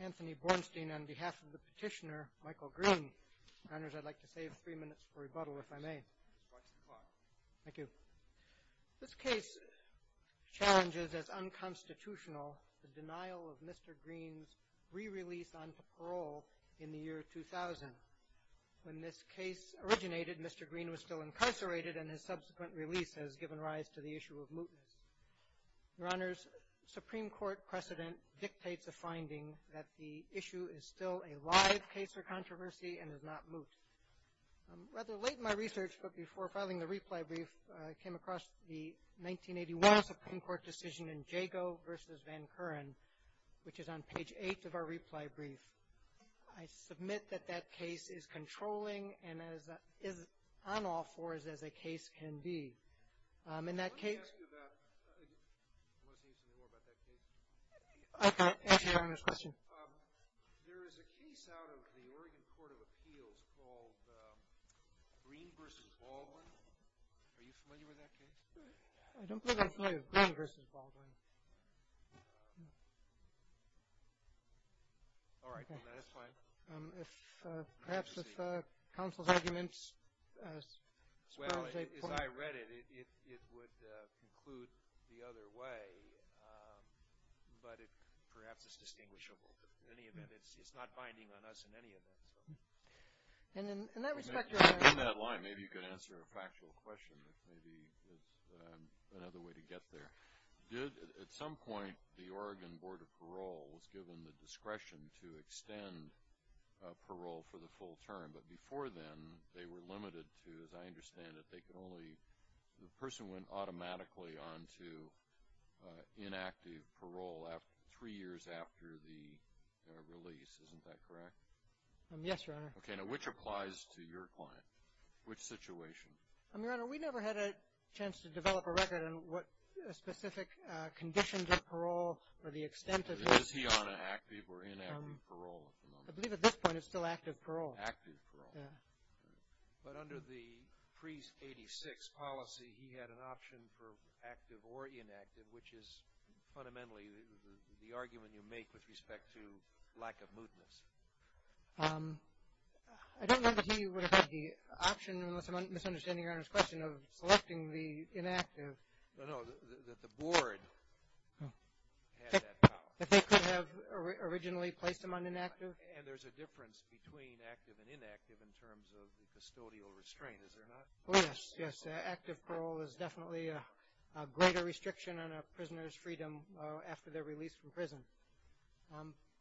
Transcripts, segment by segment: Anthony Bornstein, on behalf of the petitioner, Michael Greene, on behalf of the petitioner, I'd like to save three minutes for rebuttal, if I may. Thank you. This case challenges as unconstitutional the denial of Mr. Greene's re-release onto parole in the year 2000. When this case originated, Mr. Greene was still incarcerated, and his subsequent release has given rise to the issue of mootness. Your Honors, Supreme Court precedent dictates a finding that the issue is still a live case of controversy and is not moot. Rather late in my research, but before filing the reply brief, I came across the 1981 Supreme Court decision in Jago v. Van Curren, which is on page 8 of our reply brief. I submit that that case is controlling and is on all fours as a case can be. Let me ask you about – I want to say something more about that case. Okay. Ask your Honors a question. There is a case out of the Oregon Court of Appeals called Greene v. Baldwin. Are you familiar with that case? I don't think I'm familiar with Greene v. Baldwin. All right. That is fine. Perhaps if counsel's arguments – Well, as I read it, it would conclude the other way, but it perhaps is distinguishable. In any event, it's not binding on us in any event. In that line, maybe you could answer a factual question. Maybe that's another way to get there. At some point, the Oregon Board of Parole was given the discretion to extend parole for the full term, but before then they were limited to, as I understand it, they could only – the person went automatically on to inactive parole three years after the release. Isn't that correct? Yes, Your Honor. Okay. Now, which applies to your client? Which situation? Your Honor, we never had a chance to develop a record on what specific conditions of parole or the extent of it. Is he on an active or inactive parole at the moment? I believe at this point it's still active parole. Active parole. Yeah. But under the pre-'86 policy, he had an option for active or inactive, which is fundamentally the argument you make with respect to lack of mootness. I don't know that he would have had the option, unless I'm misunderstanding Your Honor's question, of selecting the inactive. No, no, that the board had that power. That they could have originally placed him on inactive? And there's a difference between active and inactive in terms of the custodial restraint, is there not? Oh, yes, yes. Active parole is definitely a greater restriction on a prisoner's freedom after they're released from prison.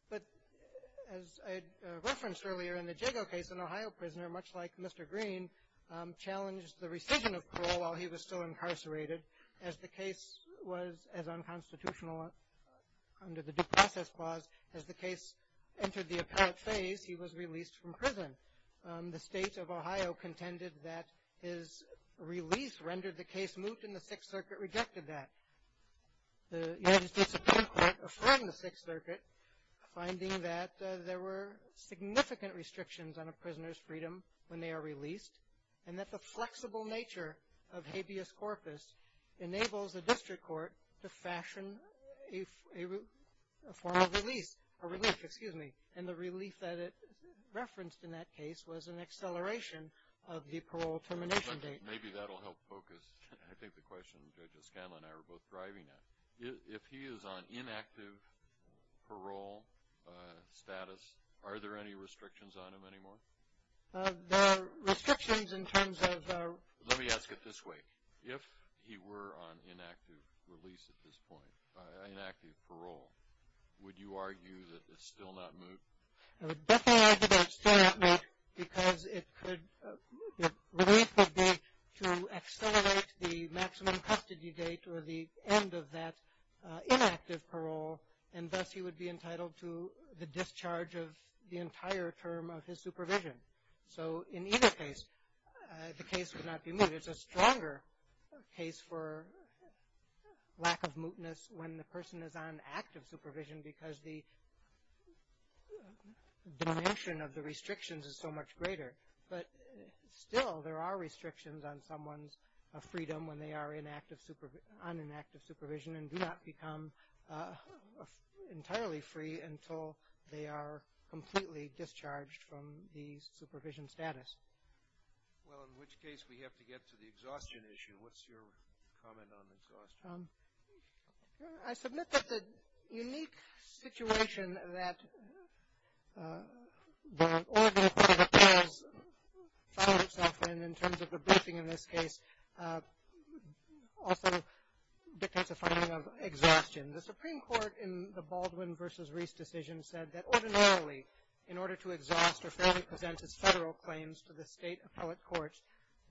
But as I referenced earlier in the Jago case, an Ohio prisoner, much like Mr. Green, challenged the rescission of parole while he was still incarcerated. As the case was as unconstitutional under the due process clause, as the case entered the apparent phase, he was released from prison. The state of Ohio contended that his release rendered the case moot, and the Sixth Circuit rejected that. The United States Supreme Court affirmed the Sixth Circuit, finding that there were significant restrictions on a prisoner's freedom when they are released, and that the flexible nature of habeas corpus enables the district court to fashion a form of release, a relief, excuse me. And the relief that it referenced in that case was an acceleration of the parole termination date. Maybe that will help focus, I think, the question Judge Escanla and I were both driving at. If he is on inactive parole status, are there any restrictions on him anymore? There are restrictions in terms of Let me ask it this way. If he were on inactive release at this point, inactive parole, would you argue that it's still not moot? I would definitely argue that it's still not moot, because the relief would be to accelerate the maximum custody date or the end of that inactive parole, and thus he would be entitled to the discharge of the entire term of his supervision. So in either case, the case would not be moot. It's a stronger case for lack of mootness when the person is on active supervision, because the dimension of the restrictions is so much greater. But still, there are restrictions on someone's freedom when they are on inactive supervision and do not become entirely free until they are completely discharged from the supervision status. Well, in which case, we have to get to the exhaustion issue. What's your comment on exhaustion? I submit that the unique situation that the Oregon Court of Appeals found itself in, in terms of the briefing in this case, also dictates a finding of exhaustion. The Supreme Court, in the Baldwin v. Reese decision, said that ordinarily in order to exhaust or fairly present its federal claims to the state appellate courts,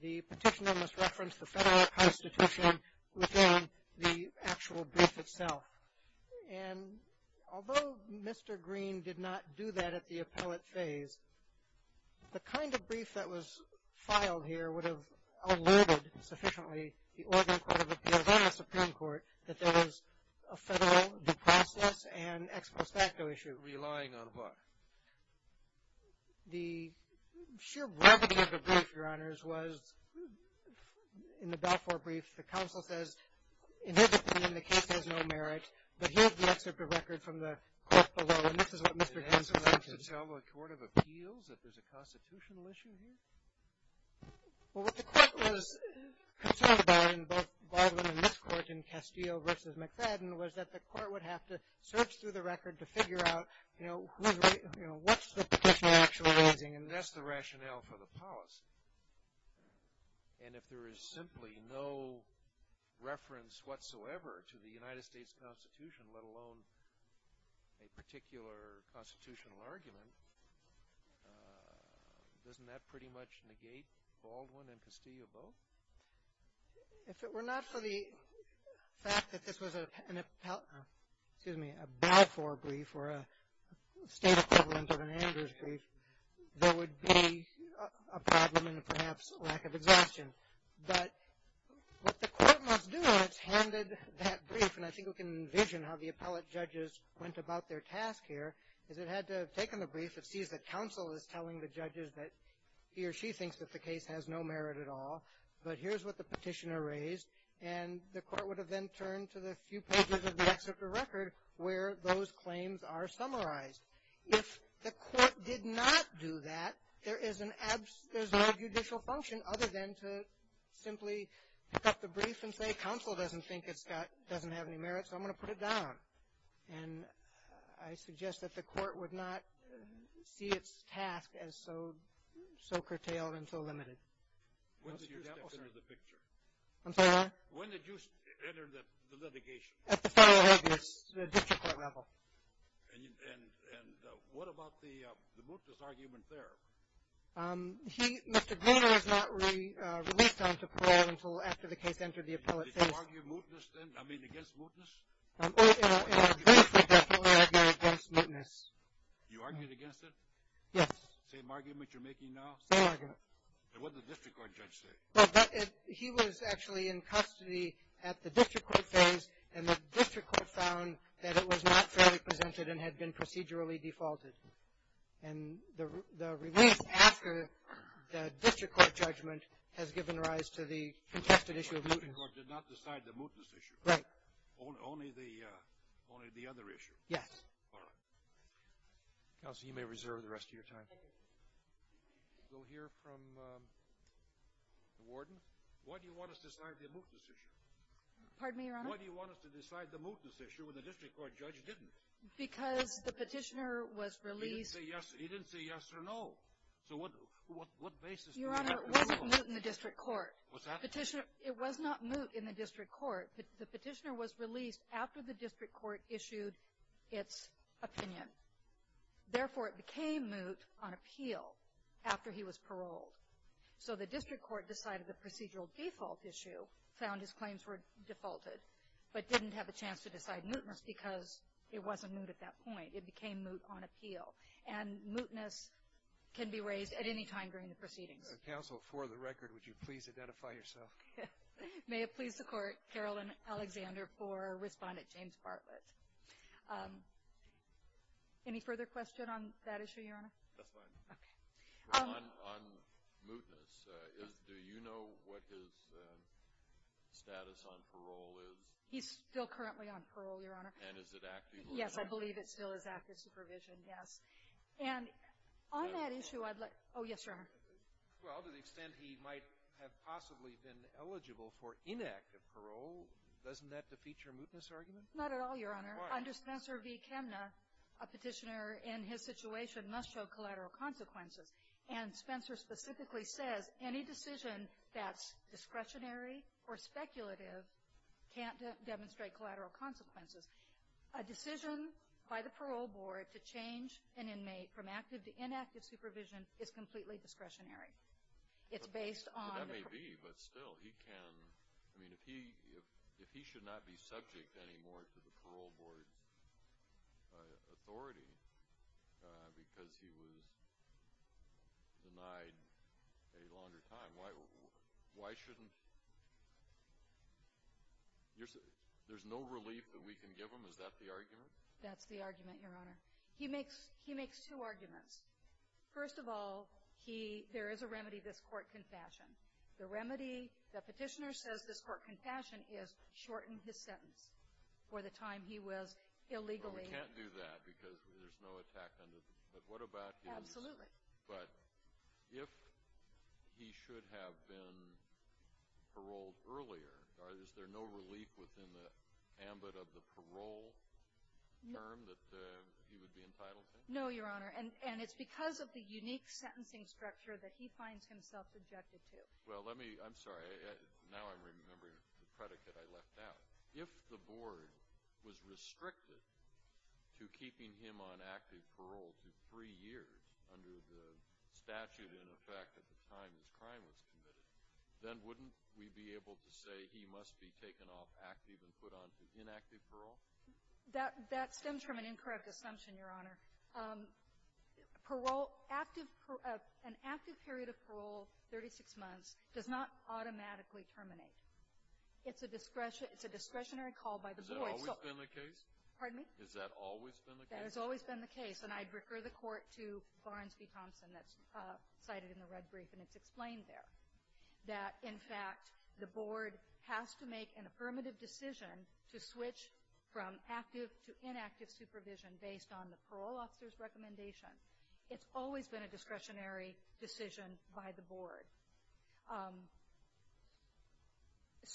the petitioner must reference the federal constitution within the actual brief itself. And although Mr. Green did not do that at the appellate phase, the kind of brief that was filed here would have alerted sufficiently the Oregon Court of Appeals and the Supreme Court that there was a federal due process and ex postacto issue. Relying on what? The sheer brevity of the brief, Your Honors, was in the Balfour brief, the counsel says, in his opinion, the case has no merit. But here's the excerpt of records from the court below. And this is what Mr. Green suggested. An answer to tell the Court of Appeals that there's a constitutional issue here? Well, what the court was concerned about in both Baldwin and this court in Castillo v. McFadden was that the court would have to search through the record to figure out, you know, what's the petitioner actually raising. And that's the rationale for the policy. And if there is simply no reference whatsoever to the United States Constitution, let alone a particular constitutional argument, doesn't that pretty much negate Baldwin and Castillo both? If it were not for the fact that this was a Balfour brief or a state equivalent of an Andrews brief, there would be a problem and perhaps lack of exhaustion. But what the court must do when it's handed that brief, and I think we can envision how the appellate judges went about their task here, is it had to have taken the brief, it sees that counsel is telling the judges that he or she thinks that the case has no merit at all, but here's what the petitioner raised. And the court would have then turned to the few pages of the excerpt of the record where those claims are summarized. If the court did not do that, there is no judicial function other than to simply pick up the brief and say counsel doesn't think it doesn't have any merit, so I'm going to put it down. And I suggest that the court would not see its task as so curtailed and so limited. When did you step into the picture? I'm sorry? When did you enter the litigation? At the federal agency, the district court level. And what about the mootness argument there? Mr. Greener was not released on parole until after the case entered the appellate phase. Did you argue against mootness? In our brief, we definitely argued against mootness. You argued against it? Yes. Same argument you're making now? Same argument. And what did the district court judge say? He was actually in custody at the district court phase, and the district court found that it was not fairly presented and had been procedurally defaulted. And the release after the district court judgment has given rise to the contested issue of mootness. The district court did not decide the mootness issue? Right. Only the other issue? Yes. All right. Counsel, you may reserve the rest of your time. Thank you. We'll hear from the warden. Why do you want us to decide the mootness issue? Pardon me, Your Honor? Why do you want us to decide the mootness issue when the district court judge didn't? Because the petitioner was released. He didn't say yes or no. So what basis does that come from? Your Honor, it wasn't moot in the district court. What's that? It was not moot in the district court. The petitioner was released after the district court issued its opinion. Therefore, it became moot on appeal after he was paroled. So the district court decided the procedural default issue, found his claims were defaulted, but didn't have a chance to decide mootness because it wasn't moot at that point. It became moot on appeal. And mootness can be raised at any time during the proceedings. Counsel, for the record, would you please identify yourself? May it please the Court, Carolyn Alexander for Respondent James Bartlett. Any further question on that issue, Your Honor? That's fine. Okay. On mootness, do you know what his status on parole is? He's still currently on parole, Your Honor. And is it active? Yes, I believe it still is active supervision, yes. And on that issue, I'd like to – oh, yes, Your Honor. Well, to the extent he might have possibly been eligible for inactive parole, doesn't that defeat your mootness argument? Not at all, Your Honor. Why? Under Spencer v. Chemna, a petitioner in his situation must show collateral consequences. And Spencer specifically says any decision that's discretionary or speculative can't demonstrate collateral consequences. A decision by the parole board to change an inmate from active to inactive supervision is completely discretionary. It's based on – That may be, but still, he can – I mean, if he should not be subject anymore to the parole board authority because he was denied a longer time, why shouldn't – there's no relief that we can give him? Is that the argument? That's the argument, Your Honor. He makes two arguments. First of all, there is a remedy, this court confession. The remedy, the petitioner says this court confession is shorten his sentence for the time he was illegally – Well, we can't do that because there's no attack on – but what about his – Absolutely. But if he should have been paroled earlier, is there no relief within the ambit of the parole term that he would be entitled to? No, Your Honor. And it's because of the unique sentencing structure that he finds himself subjected to. Well, let me – I'm sorry. Now I'm remembering the predicate I left out. If the board was restricted to keeping him on active parole to three years under the statute in effect at the time his crime was committed, then wouldn't we be able to say he must be taken off active and put on to inactive parole? That stems from an incorrect assumption, Your Honor. Parole – active – an active period of parole, 36 months, does not automatically terminate. It's a discretionary call by the board. Has that always been the case? Pardon me? Has that always been the case? That has always been the case. And I'd refer the court to Barnes v. Thompson that's cited in the red brief, and it's explained there. That, in fact, the board has to make an affirmative decision to switch from active to inactive supervision based on the parole officer's recommendation. It's always been a discretionary decision by the board.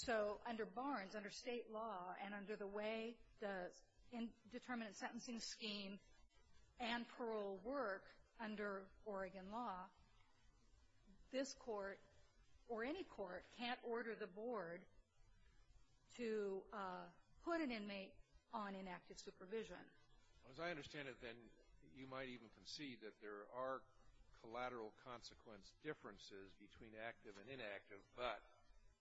So under Barnes, under state law, and under the way the indeterminate sentencing scheme and parole work under Oregon law, this court or any court can't order the board to put an inmate on inactive supervision. As I understand it, then, you might even concede that there are collateral consequence differences between active and inactive, but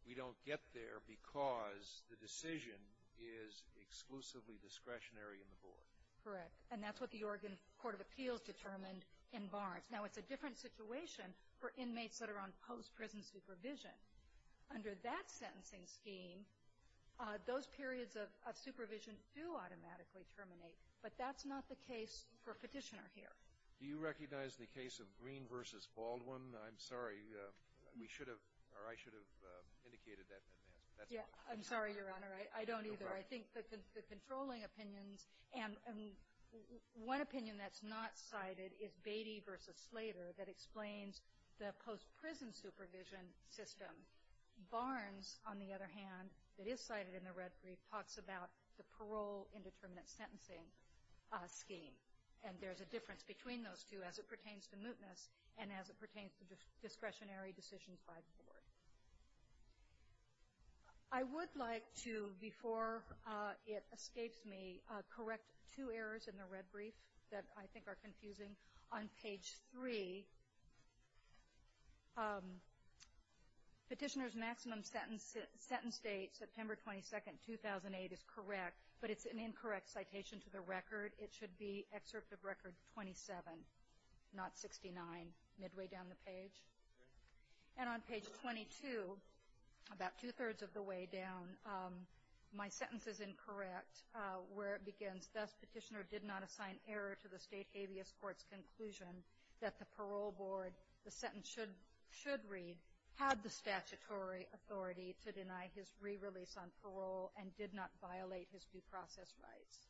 we don't get there because the decision is exclusively discretionary in the board. Correct. And that's what the Oregon Court of Appeals determined in Barnes. Now, it's a different situation for inmates that are on post-prison supervision. Under that sentencing scheme, those periods of supervision do automatically terminate. But that's not the case for Petitioner here. Do you recognize the case of Green v. Baldwin? I'm sorry. We should have, or I should have indicated that in advance. Yeah. I'm sorry, Your Honor. I don't either. I think the controlling opinions and one opinion that's not cited is Beatty v. Slater that explains the post-prison supervision system. Barnes, on the other hand, that is cited in the red brief, talks about the parole indeterminate sentencing scheme. And there's a difference between those two as it pertains to mootness and as it pertains to discretionary decisions by the board. I would like to, before it escapes me, correct two errors in the red brief that I think are confusing. On page 3, Petitioner's maximum sentence date, September 22, 2008, is correct, but it's an incorrect citation to the record. It should be excerpt of record 27, not 69, midway down the page. And on page 22, about two-thirds of the way down, my sentence is incorrect where it begins, thus Petitioner did not assign error to the state habeas court's conclusion that the parole board, the sentence should read, had the statutory authority to deny his re-release on parole and did not violate his due process rights.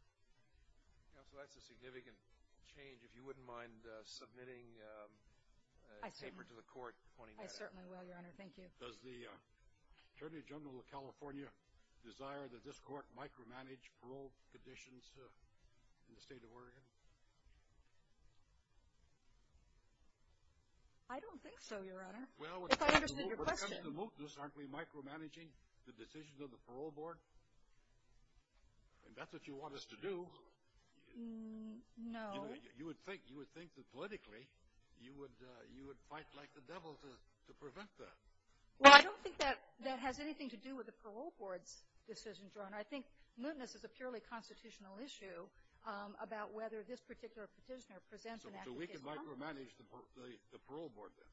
Counsel, that's a significant change. If you wouldn't mind submitting a paper to the court pointing that out. I certainly will, Your Honor. Thank you. Does the Attorney General of California desire that this court micromanage parole conditions in the state of Oregon? I don't think so, Your Honor, if I understand your question. Well, when it comes to mootness, aren't we micromanaging the decisions of the parole board? I mean, that's what you want us to do. No. You would think that politically you would fight like the devil to prevent that. Well, I don't think that has anything to do with the parole board's decisions, Your Honor. I think mootness is a purely constitutional issue about whether this particular petitioner presents an active case. So we can micromanage the parole board then?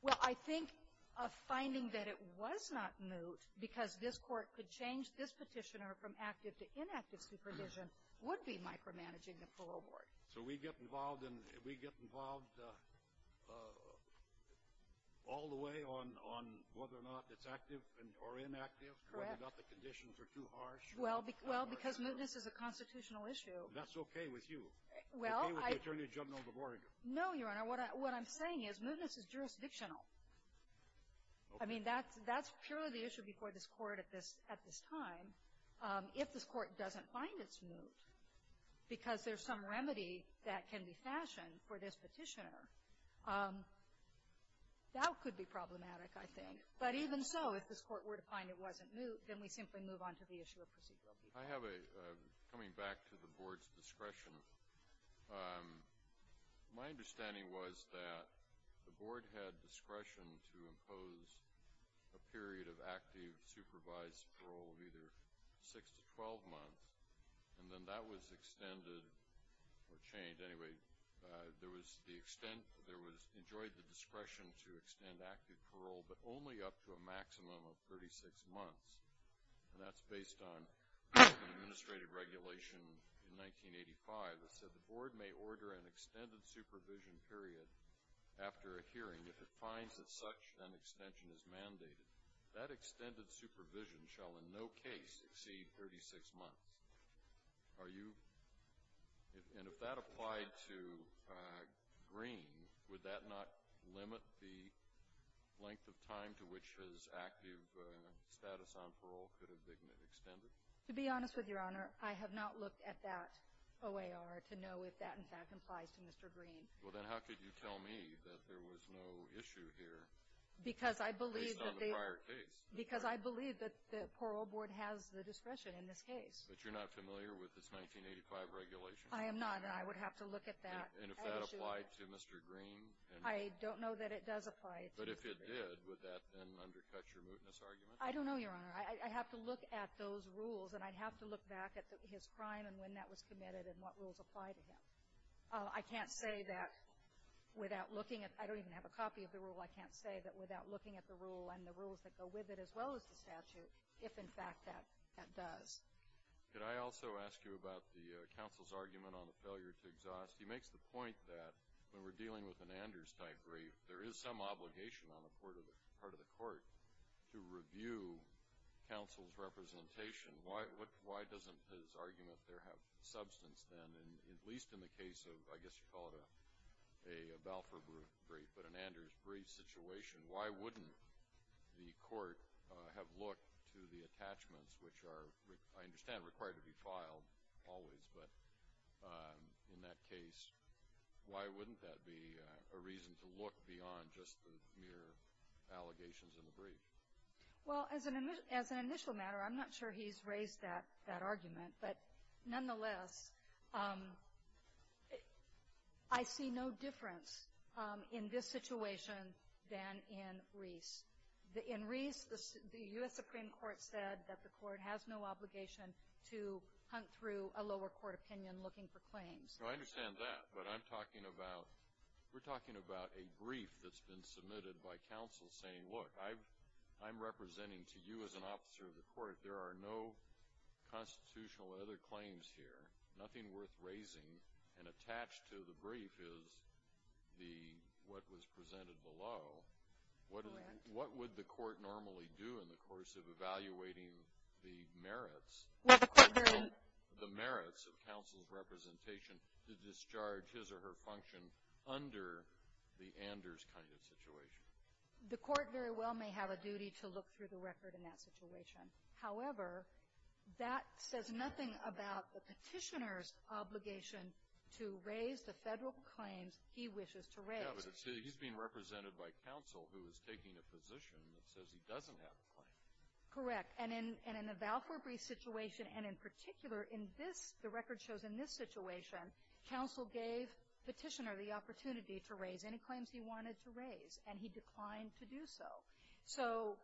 Well, I think a finding that it was not moot because this court could change this petitioner from active to inactive supervision would be micromanaging the parole board. So we get involved all the way on whether or not it's active or inactive? Correct. Whether or not the conditions are too harsh? Well, because mootness is a constitutional issue. That's okay with you? Okay with the Attorney General of Oregon? No, Your Honor. What I'm saying is mootness is jurisdictional. Okay. I mean, that's purely the issue before this court at this time. If this court doesn't find it's moot because there's some remedy that can be fashioned for this petitioner, that could be problematic, I think. But even so, if this court were to find it wasn't moot, then we simply move on to the issue of procedural duty. I have a, coming back to the board's discretion, my understanding was that the board had discretion to impose a period of active supervised parole of either 6 to 12 months, and then that was extended or changed. Anyway, there was the extent, there was, enjoyed the discretion to extend active parole, but only up to a maximum of 36 months. And that's based on an administrative regulation in 1985 that said the board may order an extended supervision period after a hearing. If it finds that such an extension is mandated, that extended supervision shall in no case exceed 36 months. Are you, and if that applied to Green, would that not limit the length of time to which his active status on parole could have been extended? To be honest with Your Honor, I have not looked at that OAR to know if that in fact applies to Mr. Green. Well, then how could you tell me that there was no issue here based on the prior case? Because I believe that the parole board has the discretion in this case. But you're not familiar with this 1985 regulation? I am not, and I would have to look at that. And if that applied to Mr. Green? I don't know that it does apply to Mr. Green. But if it did, would that then undercut your mootness argument? I don't know, Your Honor. I have to look at those rules, and I'd have to look back at his crime and when that was committed and what rules apply to him. I can't say that without looking at, I don't even have a copy of the rule, I can't say that without looking at the rule and the rules that go with it as well as the statute, if in fact that does. Could I also ask you about the counsel's argument on the failure to exhaust? He makes the point that when we're dealing with an Anders-type brief, there is some obligation on the part of the court to review counsel's representation. Why doesn't his argument there have substance then, at least in the case of, I guess you'd call it a Balfour brief, but an Anders brief situation, why wouldn't the court have looked to the attachments, which are, I understand, required to be filed always, but in that case, why wouldn't that be a reason to look beyond just the mere allegations in the brief? Well, as an initial matter, I'm not sure he's raised that argument. But nonetheless, I see no difference in this situation than in Reese. In Reese, the U.S. Supreme Court said that the court has no obligation to hunt through a lower court opinion looking for claims. I understand that, but I'm talking about, we're talking about a brief that's been submitted by counsel saying, look, I'm representing to you as an officer of the court, there are no constitutional other claims here, nothing worth raising, and attached to the brief is what was presented below. Correct. What would the court normally do in the course of evaluating the merits of counsel's representation to discharge his or her function under the Anders kind of situation? The court very well may have a duty to look through the record in that situation. However, that says nothing about the petitioner's obligation to raise the federal claims he wishes to raise. Yes, but he's being represented by counsel who is taking a position that says he doesn't have a claim. Correct. And in the Valfour brief situation, and in particular in this, the record shows in this situation, counsel gave petitioner the opportunity to raise any claims he wanted to raise, and he declined to do so. So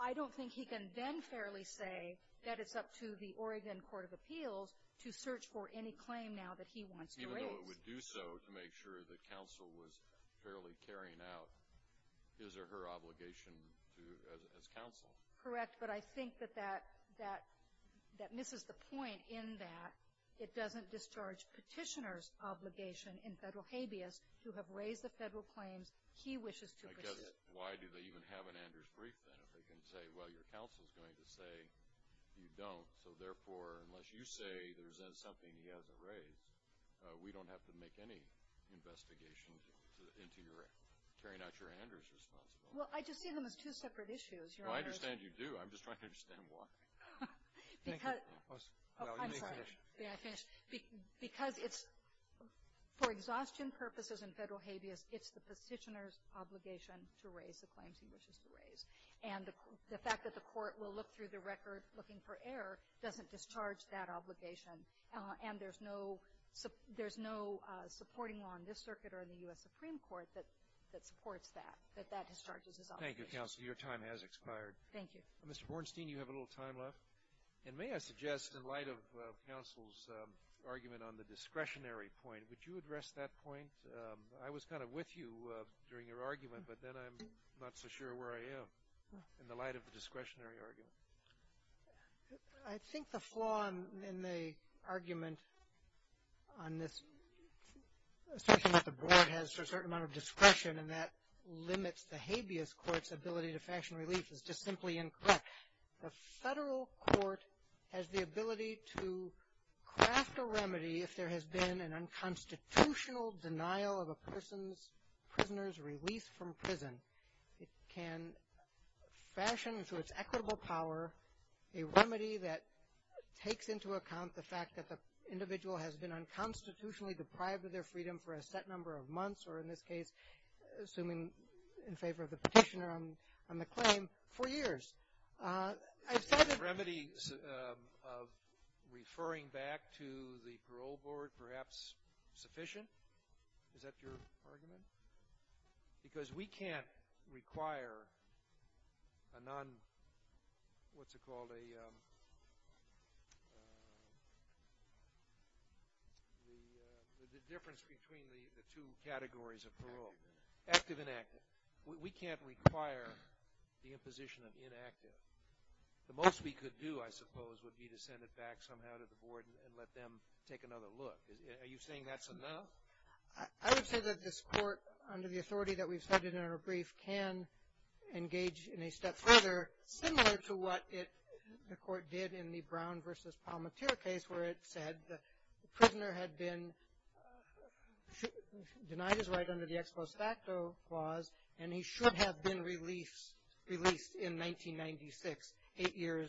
I don't think he can then fairly say that it's up to the Oregon Court of Appeals to search for any claim now that he wants to raise. Even though it would do so to make sure that counsel was fairly carrying out his or her obligation as counsel. Correct. But I think that that misses the point in that it doesn't discharge petitioner's obligation in federal habeas to have raised the federal claims he wishes to pursue. Because why do they even have an Anders brief, then, if they can say, well, your counsel is going to say you don't. So, therefore, unless you say there's then something he hasn't raised, we don't have to make any investigation into your carrying out your Anders responsibility. Well, I just see them as two separate issues. Well, I understand you do. I'm just trying to understand why. Because it's for exhaustion purposes in federal habeas, it's the petitioner's obligation to raise the claims he wishes to raise. And the fact that the court will look through the record looking for error doesn't discharge that obligation. And there's no supporting law in this circuit or in the U.S. Supreme Court that supports that, that that discharges his obligation. Thank you, counsel. Your time has expired. Thank you. Mr. Bornstein, you have a little time left. And may I suggest, in light of counsel's argument on the discretionary point, would you address that point? I was kind of with you during your argument, but then I'm not so sure where I am in the light of the discretionary argument. I think the flaw in the argument on this, especially that the board has a certain amount of discretion and that limits the habeas court's ability to fashion relief, is just simply incorrect. The federal court has the ability to craft a remedy if there has been an unconstitutional denial of a person's, prisoner's release from prison. It can fashion to its equitable power a remedy that takes into account the fact that the individual has been unconstitutionally deprived of their freedom for a set number of months, or in this case, assuming in favor of the petitioner on the claim, for years. Is the remedy of referring back to the parole board perhaps sufficient? Is that your argument? Because we can't require a non, what's it called, the difference between the two categories of parole, active and active. We can't require the imposition of inactive. The most we could do, I suppose, would be to send it back somehow to the board and let them take another look. Are you saying that's enough? I would say that this court, under the authority that we've cited in our brief, can engage in a step further, similar to what the court did in the Brown v. Palmatier case where it said the prisoner had been, denied his right under the ex post facto clause and he should have been released in 1996, eight years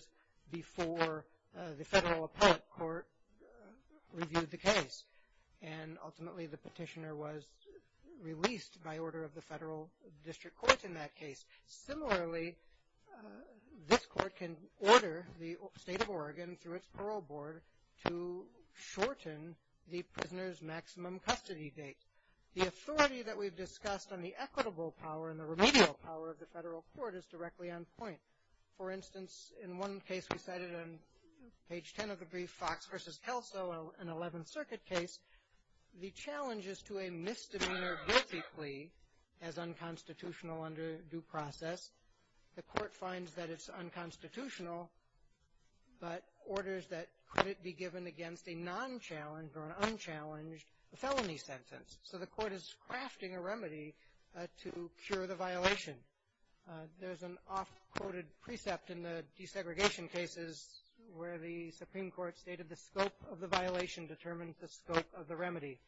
before the federal appellate court reviewed the case. And ultimately, the petitioner was released by order of the federal district court in that case. Similarly, this court can order the state of Oregon, through its parole board, to shorten the prisoner's maximum custody date. The authority that we've discussed on the equitable power and the remedial power of the federal court is directly on point. For instance, in one case we cited on page 10 of the brief, Fox v. Kelso, an 11th Circuit case, the challenge is to a misdemeanor guilty plea as unconstitutional under due process. The court finds that it's unconstitutional, but orders that could it be given against a non-challenged or an unchallenged felony sentence. So the court is crafting a remedy to cure the violation. There's an oft quoted precept in the desegregation cases where the Supreme Court stated the scope of the violation determines the scope of the remedy.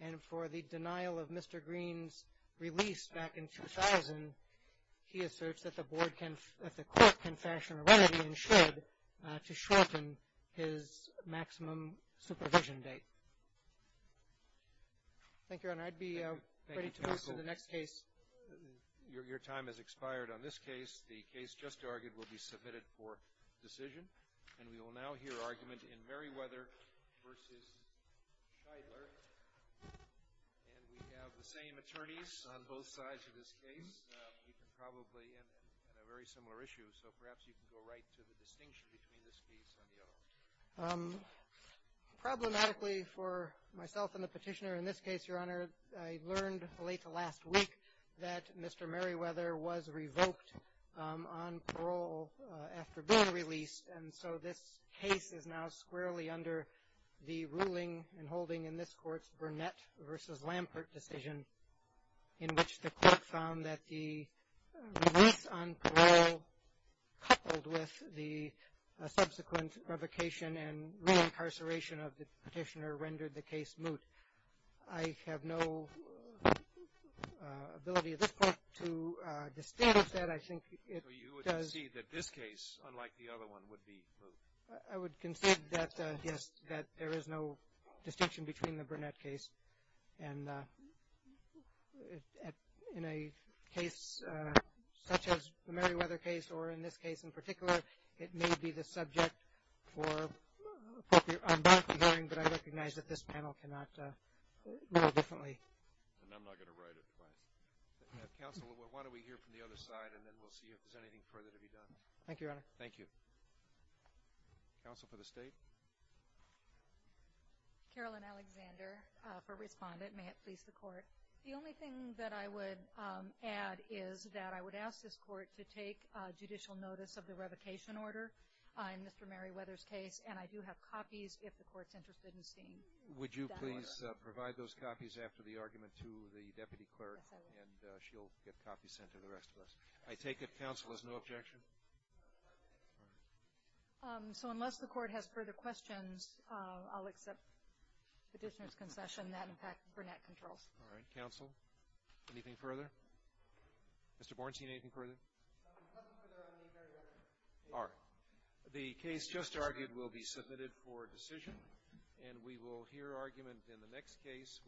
And for the denial of Mr. Green's release back in 2000, he asserts that the court can fashion a remedy and should to shorten his maximum supervision date. Thank you, Your Honor. I'd be ready to move to the next case. Your time has expired on this case. The case just argued will be submitted for decision. And we will now hear argument in Meriwether v. Scheidler. And we have the same attorneys on both sides of this case. We can probably end on a very similar issue, so perhaps you can go right to the distinction between this case and the other one. Problematically for myself and the petitioner in this case, Your Honor, I learned late last week that Mr. Meriwether was revoked on parole after being released. And so this case is now squarely under the ruling and holding in this court's Burnett v. Lampert decision, in which the court found that the release on parole coupled with the subsequent revocation and reincarceration of the petitioner rendered the case moot. I have no ability at this point to distinguish that. I think it does. So you would concede that this case, unlike the other one, would be moot? I would concede that, yes, that there is no distinction between the Burnett case and in a case such as the Meriwether case or in this case in particular, it may be the subject for a more appropriate debunking, but I recognize that this panel cannot rule differently. And I'm not going to write it twice. Counsel, why don't we hear from the other side, and then we'll see if there's anything further to be done. Thank you, Your Honor. Thank you. Counsel for the State. Carolyn Alexander for Respondent. May it please the Court. The only thing that I would add is that I would ask this Court to take judicial notice of the revocation order in Mr. Meriwether's case, and I do have copies if the Court's interested in seeing that order. Would you please provide those copies after the argument to the Deputy Clerk? Yes, I will. And she'll get copies sent to the rest of us. I take it counsel has no objection? So unless the Court has further questions, I'll accept the petitioner's concession. That, in fact, Burnett controls. All right. Counsel, anything further? Mr. Bornstein, anything further? Nothing further on the Meriwether case. All right. The case just argued will be submitted for decision, and we will hear argument in the next case,